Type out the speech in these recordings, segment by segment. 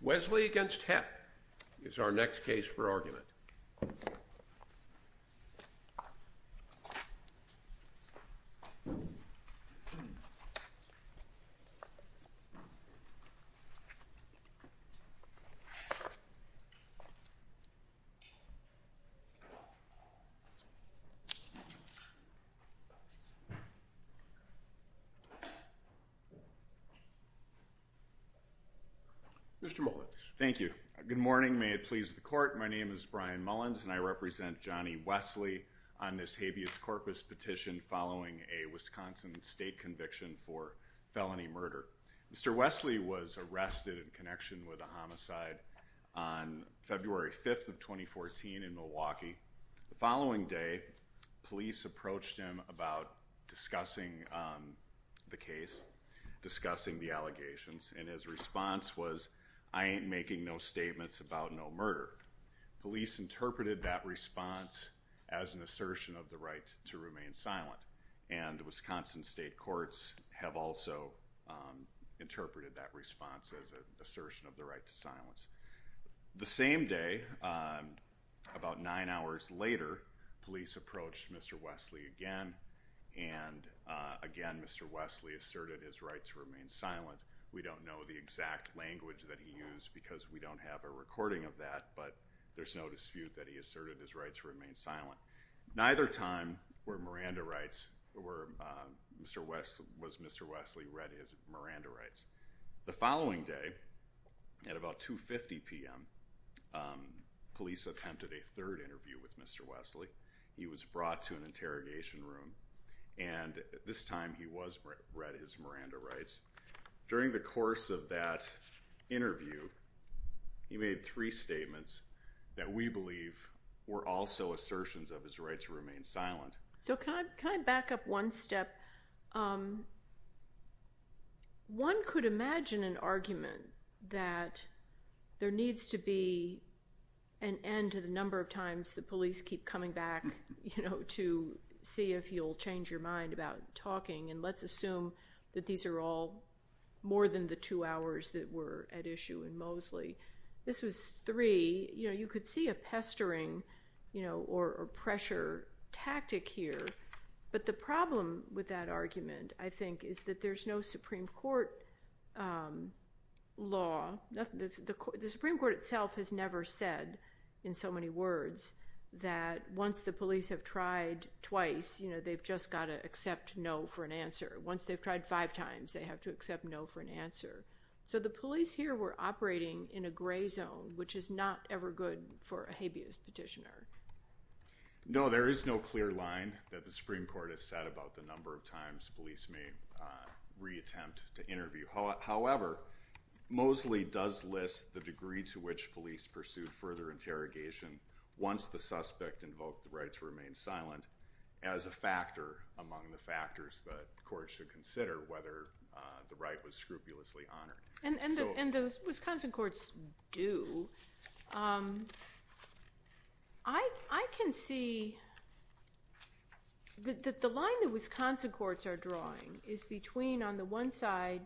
Wesley v. Hepp is our next case for argument. Mr. Mullins. Thank you. Good morning. May it please the court. My name is Brian Mullins and I represent Johnny Wesley on this habeas corpus petition following a Wisconsin state conviction for felony murder. Mr. Wesley was arrested in connection with a homicide on February 5th of 2014 in Milwaukee. The following day police approached him about discussing the case, discussing the allegations and his response was I ain't making no statements about no murder. Police interpreted that response as an assertion of the right to remain silent and Wisconsin state courts have also interpreted that response as an assertion of the right to silence. The same day, about nine hours later, police approached Mr. Wesley again and again Mr. Wesley asserted his right to remain silent. We don't know the exact language that he used because we don't have a recording of that but there's no dispute that he asserted his right to remain silent. Neither time were Mr. Wesley read his Miranda rights. The following day at about 2.50 p.m. police attempted a third interview with Mr. Wesley. He was brought to an interrogation room and this time he was read his Miranda rights. During the course of that interview he made three statements that we believe were also assertions of his right to remain silent. Can I back up one step? One could imagine an argument that there needs to be an end to the number of times the police keep coming back to see if you'll change your mind about talking and let's assume that these are all more than the two hours that were at issue in Mosley. This was three. You could see a pestering or pressure tactic here but the problem with that argument I think is that there's no Supreme Court law. The Supreme Court itself has never said in so many words that once the police have tried twice they've just got to accept no for an answer. Once they've tried five times they have to accept no for an answer. So the police here were operating in a gray zone which is not ever good for a habeas petitioner. No, there is no clear line that the Supreme Court has said about the number of times police may reattempt to interview. However, Mosley does list the degree to which police pursued further interrogation once the suspect invoked the right to remain silent as a factor among the factors that courts should consider whether the right was scrupulously honored. And the Wisconsin courts do. I can see that the line that Wisconsin courts are drawing is between on the one side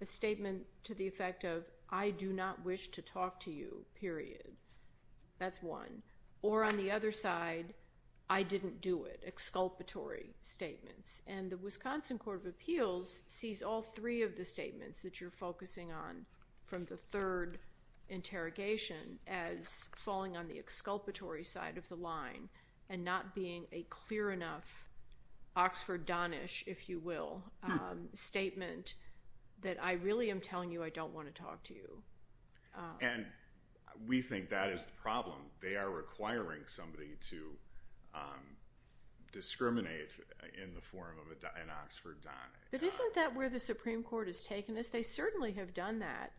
a statement to the effect of I do not wish to talk to you period. That's one. Or on the other side, I didn't do it, exculpatory statements. And the Wisconsin Court of Appeals sees all three of the statements that you're focusing on from the third interrogation as falling on the exculpatory side of the line and not being a clear enough Oxford Donish, if you will, statement that I really am telling you I don't want to talk to you. And we think that is the problem. They are requiring somebody to discriminate in the form of an Oxford Donish. But isn't that where the Supreme Court has taken this? They certainly have done that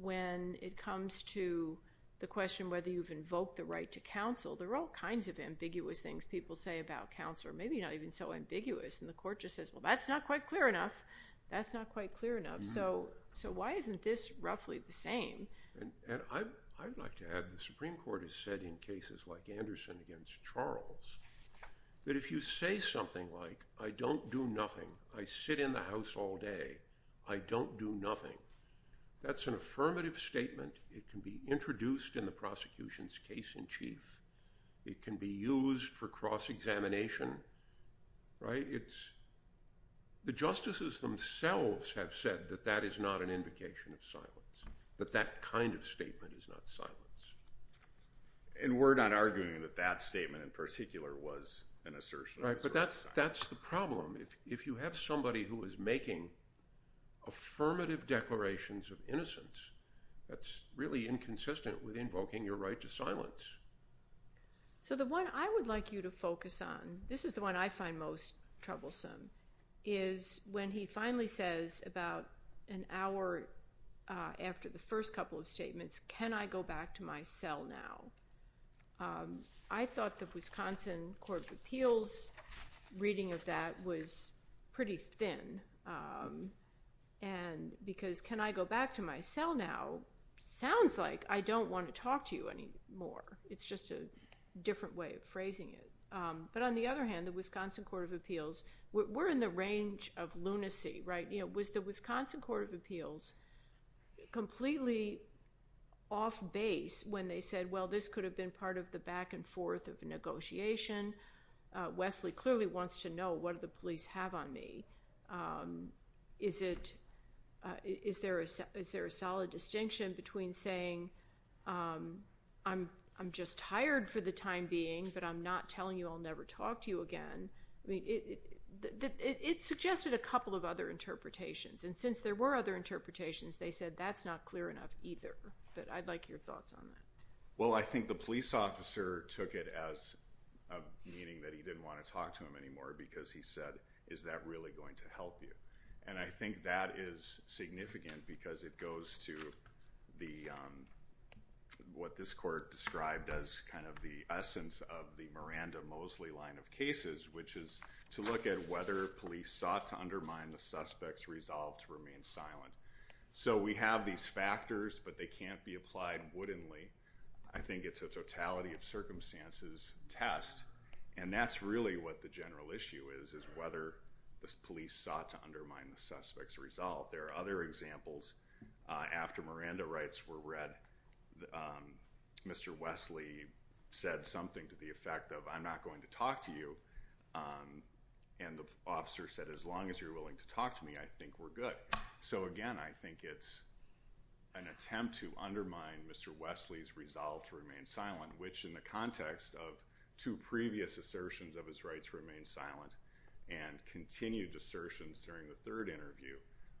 when it comes to the question whether you've invoked the right to counsel. There are all kinds of ambiguous things people say about counsel or maybe not even so ambiguous. And the court just says, well, that's not quite clear enough. That's not quite clear enough. So so why isn't this roughly the same? And I'd like to add the Supreme Court has said in cases like Anderson against Charles that if you say something like I don't do nothing, I sit in the house all day, I don't do nothing. That's an affirmative statement. It can be introduced in the prosecution's case in chief. It can be used for cross-examination. The justices themselves have said that that is not an invocation of silence, that that kind of statement is not silence. And we're not arguing that that statement in particular was an assertion. But that's the problem. If you have somebody who is making affirmative declarations of innocence, that's really inconsistent with invoking your right to silence. So the one I would like you to focus on, this is the one I find most troublesome, is when he finally says about an hour after the first couple of statements, can I go back to my cell now? I thought the Wisconsin Court of Appeals reading of that was pretty thin. And because can I go back to my cell now sounds like I don't want to talk to you anymore. It's just a different way of phrasing it. But on the other hand, the Wisconsin Court of Appeals, we're in the range of lunacy, right? Was the Wisconsin Court of Appeals completely off base when they said, well, this could have been part of the back and forth of a negotiation? Wesley clearly wants to know what do the police have on me? Is there a solid distinction between saying I'm just tired for the time being, but I'm not telling you I'll never talk to you again? It suggested a couple of other interpretations. And since there were other interpretations, they said that's not clear enough either. But I'd like your thoughts on that. Well, I think the police officer took it as meaning that he didn't want to talk to him anymore because he said, is that really going to help you? And I think that is significant because it goes to the what this court described as kind of the essence of the Miranda Mosley line of cases, which is to look at whether police sought to undermine the suspect's resolve to remain silent. So we have these factors, but they can't be applied woodenly. I think it's a totality of circumstances test. And that's really what the general issue is, is whether this police sought to undermine the suspect's resolve. There are other examples. After Miranda rights were read, Mr. Wesley said something to the effect of I'm not going to talk to you. And the officer said, as long as you're willing to talk to me, I think we're good. So, again, I think it's an attempt to undermine Mr. Wesley's resolve to remain silent, which in the context of two previous assertions of his rights remain silent and continued assertions during the third interview.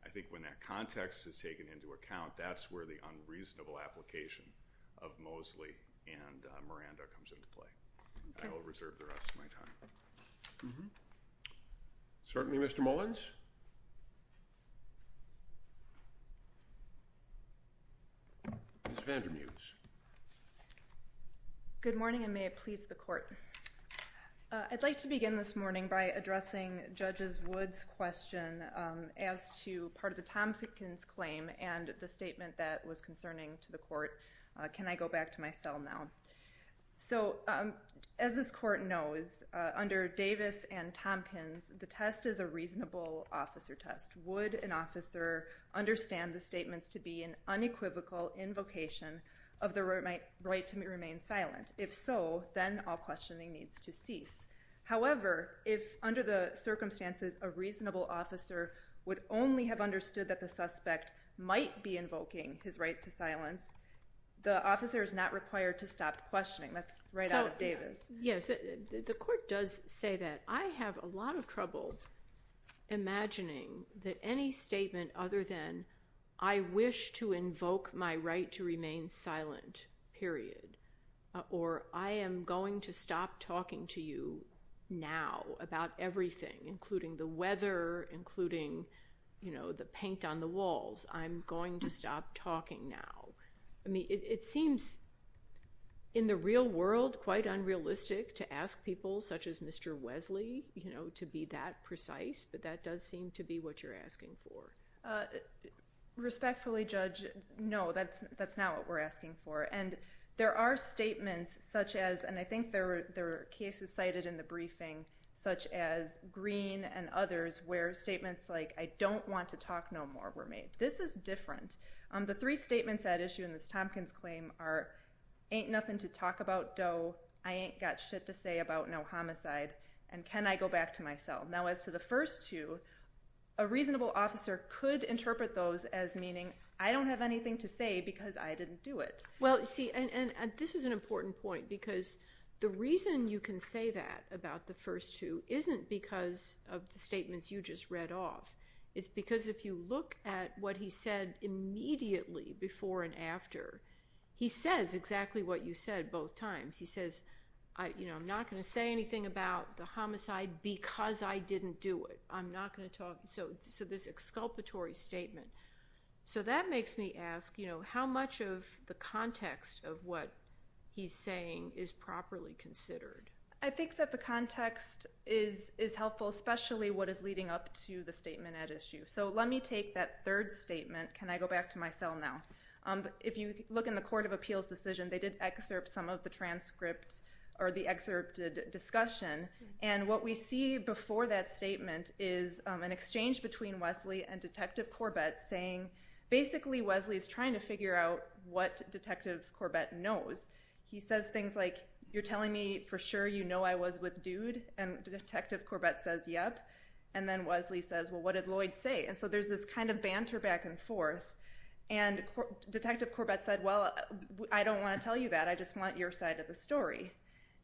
I think when that context is taken into account, that's where the unreasonable application of Mosley and Miranda comes into play. I will reserve the rest of my time. Mm hmm. Certainly, Mr. Mullins. Vander Mews. Good morning. And may it please the court. I'd like to begin this morning by addressing judges. Woods question as to part of the Thompson's claim and the statement that was concerning to the court. Can I go back to my cell now? So as this court knows, under Davis and Tompkins, the test is a reasonable officer test. Would an officer understand the statements to be an unequivocal invocation of the right to remain silent? If so, then all questioning needs to cease. However, if under the circumstances, a reasonable officer would only have understood that the suspect might be invoking his right to silence. The officer is not required to stop questioning. That's right out of Davis. Yes, the court does say that. I have a lot of trouble imagining that any statement other than I wish to invoke my right to remain silent, period, or I am going to stop talking to you now about everything, including the weather, including, you know, the paint on the walls. I'm going to stop talking now. I mean, it seems. In the real world, quite unrealistic to ask people such as Mr. Wesley, you know, to be that precise, but that does seem to be what you're asking for. Respectfully, Judge, no, that's that's not what we're asking for. And there are statements such as and I think there are cases cited in the briefing, such as Green and others, where statements like I don't want to talk no more were made. This is different. The three statements at issue in this Tompkins claim are ain't nothing to talk about, though I ain't got shit to say about no homicide. And can I go back to myself? Now, as to the first two, a reasonable officer could interpret those as meaning I don't have anything to say because I didn't do it. Well, see, and this is an important point, because the reason you can say that about the first two isn't because of the statements you just read off. It's because if you look at what he said immediately before and after, he says exactly what you said both times. He says, you know, I'm not going to say anything about the homicide because I didn't do it. I'm not going to talk. So so this exculpatory statement. So that makes me ask, you know, how much of the context of what he's saying is properly considered? I think that the context is is helpful, especially what is leading up to the statement at issue. So let me take that third statement. Can I go back to myself now? If you look in the court of appeals decision, they did excerpt some of the transcript or the excerpted discussion. And what we see before that statement is an exchange between Wesley and Detective Corbett saying basically Wesley is trying to figure out what Detective Corbett knows. He says things like, you're telling me for sure, you know, I was with dude. And Detective Corbett says, yep. And then Wesley says, well, what did Lloyd say? And so there's this kind of banter back and forth. And Detective Corbett said, well, I don't want to tell you that. I just want your side of the story.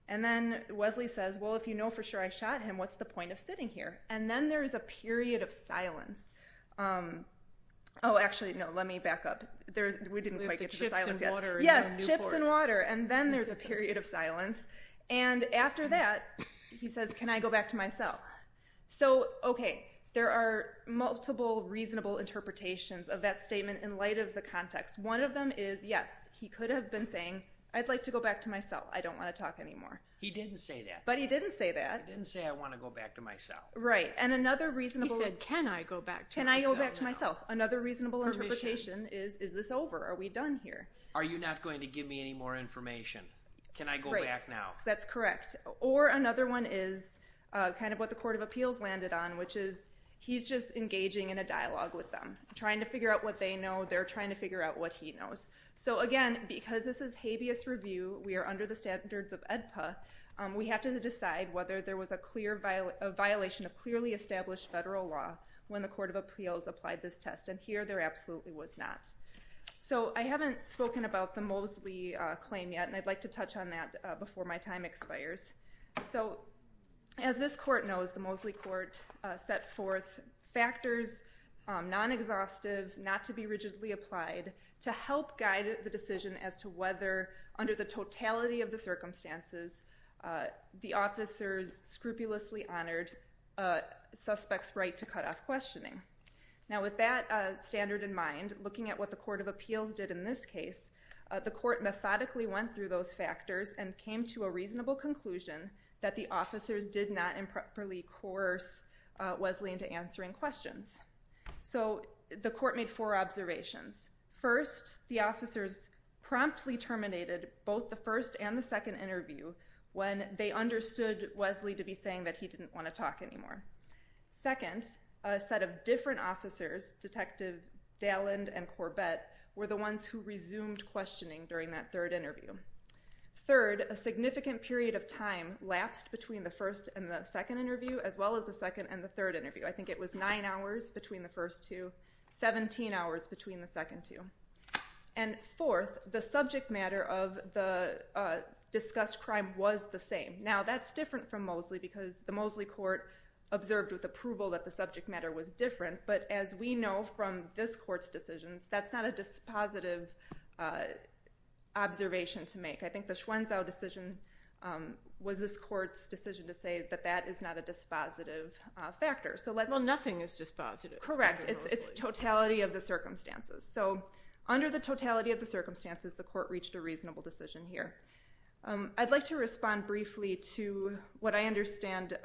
And then Wesley says, well, if you know for sure I shot him, what's the point of sitting here? And then there is a period of silence. Oh, actually, no, let me back up there. We didn't quite get to the silence yet. Yes, chips and water. And then there's a period of silence. And after that, he says, can I go back to myself? So, OK, there are multiple reasonable interpretations of that statement in light of the context. One of them is, yes, he could have been saying, I'd like to go back to myself. I don't want to talk anymore. He didn't say that. But he didn't say that. He didn't say I want to go back to myself. Right. And another reasonable. He said, can I go back to myself? Can I go back to myself? Another reasonable interpretation is, is this over? Are we done here? Are you not going to give me any more information? Can I go back now? That's correct. Or another one is kind of what the Court of Appeals landed on, which is he's just engaging in a dialogue with them, trying to figure out what they know. They're trying to figure out what he knows. So, again, because this is habeas review, we are under the standards of ADPA. We have to decide whether there was a clear violation of clearly established federal law when the Court of Appeals applied this test. And here there absolutely was not. So I haven't spoken about the Mosley claim yet. And I'd like to touch on that before my time expires. So as this court knows, the Mosley court set forth factors, non-exhaustive, not to be rigidly applied to help guide the decision as to whether under the totality of the circumstances, the officers scrupulously honored a suspect's right to cut off questioning. Now, with that standard in mind, looking at what the Court of Appeals did in this case, the court methodically went through those factors and came to a reasonable conclusion that the officers did not improperly coerce Wesley into answering questions. So the court made four observations. First, the officers promptly terminated both the first and the second interview when they understood Wesley to be saying that he didn't want to talk anymore. Second, a set of different officers, Detective Dalland and Corbett, were the ones who resumed questioning during that third interview. Third, a significant period of time lapsed between the first and the second interview as well as the second and the third interview. I think it was nine hours between the first two, 17 hours between the second two. And fourth, the subject matter of the discussed crime was the same. Now, that's different from Mosley because the Mosley court observed with approval that the subject matter was different, but as we know from this court's decisions, that's not a dispositive observation to make. I think the Schwenzow decision was this court's decision to say that that is not a dispositive factor. Well, nothing is dispositive. Correct. It's totality of the circumstances. So under the totality of the circumstances, the court reached a reasonable decision here. I'd like to respond briefly to what I understand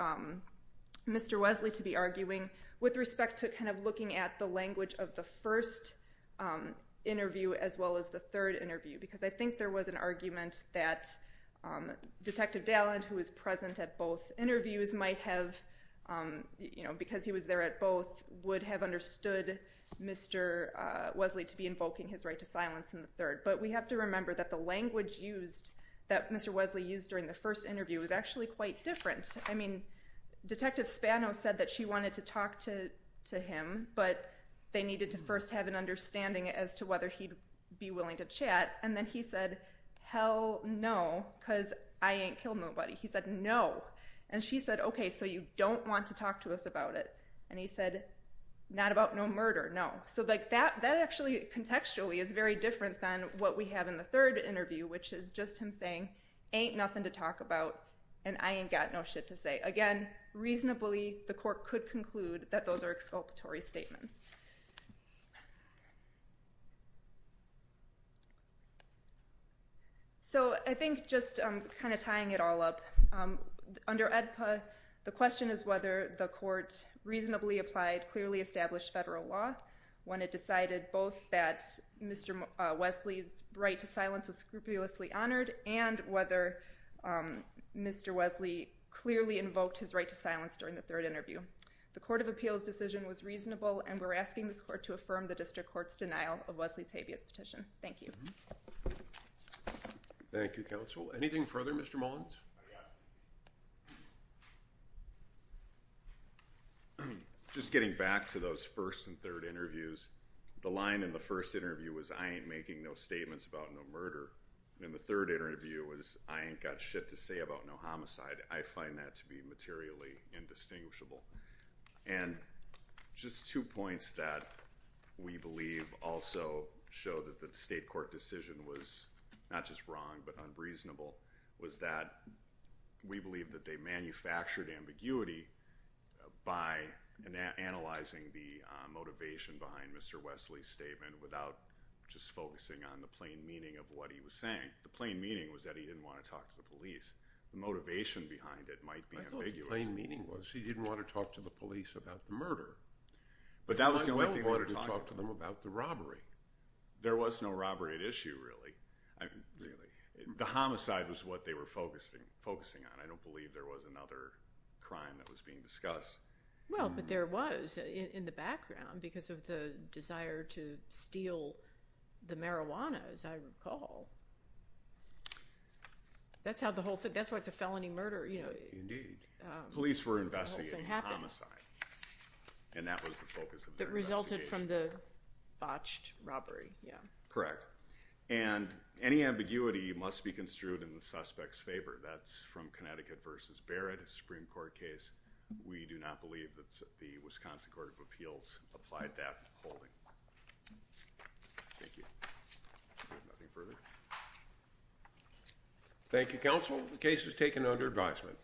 Mr. Wesley to be arguing with respect to kind of looking at the language of the first interview as well as the third interview because I think there was an argument that Detective Dalland, who was present at both interviews, might have, you know, because he was there at both, would have understood Mr. Wesley to be invoking his right to silence in the third. But we have to remember that the language used, that Mr. Wesley used during the first interview, was actually quite different. I mean, Detective Spano said that she wanted to talk to him, but they needed to first have an understanding as to whether he'd be willing to chat. And then he said, hell no, because I ain't killed nobody. He said, no. And she said, okay, so you don't want to talk to us about it. And he said, not about no murder, no. So, like, that actually contextually is very different than what we have in the third interview, which is just him saying, ain't nothing to talk about, and I ain't got no shit to say. Again, reasonably, the court could conclude that those are exculpatory statements. So I think just kind of tying it all up, under AEDPA, the question is whether the court reasonably applied a clearly established federal law when it decided both that Mr. Wesley's right to silence was scrupulously honored, and whether Mr. Wesley clearly invoked his right to silence during the third interview. The Court of Appeals decision was reasonable, and we're asking this court to affirm the district court's denial of Wesley's habeas petition. Thank you. Thank you, counsel. Anything further, Mr. Mullins? Yes. Just getting back to those first and third interviews, the line in the first interview was, I ain't making no statements about no murder. In the third interview was, I ain't got shit to say about no homicide. I find that to be materially indistinguishable. And just two points that we believe also show that the state court decision was not just wrong but unreasonable was that we believe that they manufactured ambiguity by analyzing the motivation behind Mr. Wesley's statement without just focusing on the plain meaning of what he was saying. The plain meaning was that he didn't want to talk to the police. The motivation behind it might be ambiguous. I thought the plain meaning was he didn't want to talk to the police about the murder. But that was the only thing he wanted to talk about. He wanted to talk to them about the robbery. There was no robbery at issue, really. The homicide was what they were focusing on. I don't believe there was another crime that was being discussed. Well, but there was in the background because of the desire to steal the marijuana, as I recall. That's how the whole thing – that's why the felony murder, you know. Indeed. Police were investigating homicide. And that was the focus of their investigation. It resulted from the botched robbery, yeah. Correct. And any ambiguity must be construed in the suspect's favor. That's from Connecticut v. Barrett, a Supreme Court case. We do not believe that the Wisconsin Court of Appeals applied that holding. Thank you. Nothing further? Thank you, counsel. The case is taken under advisement.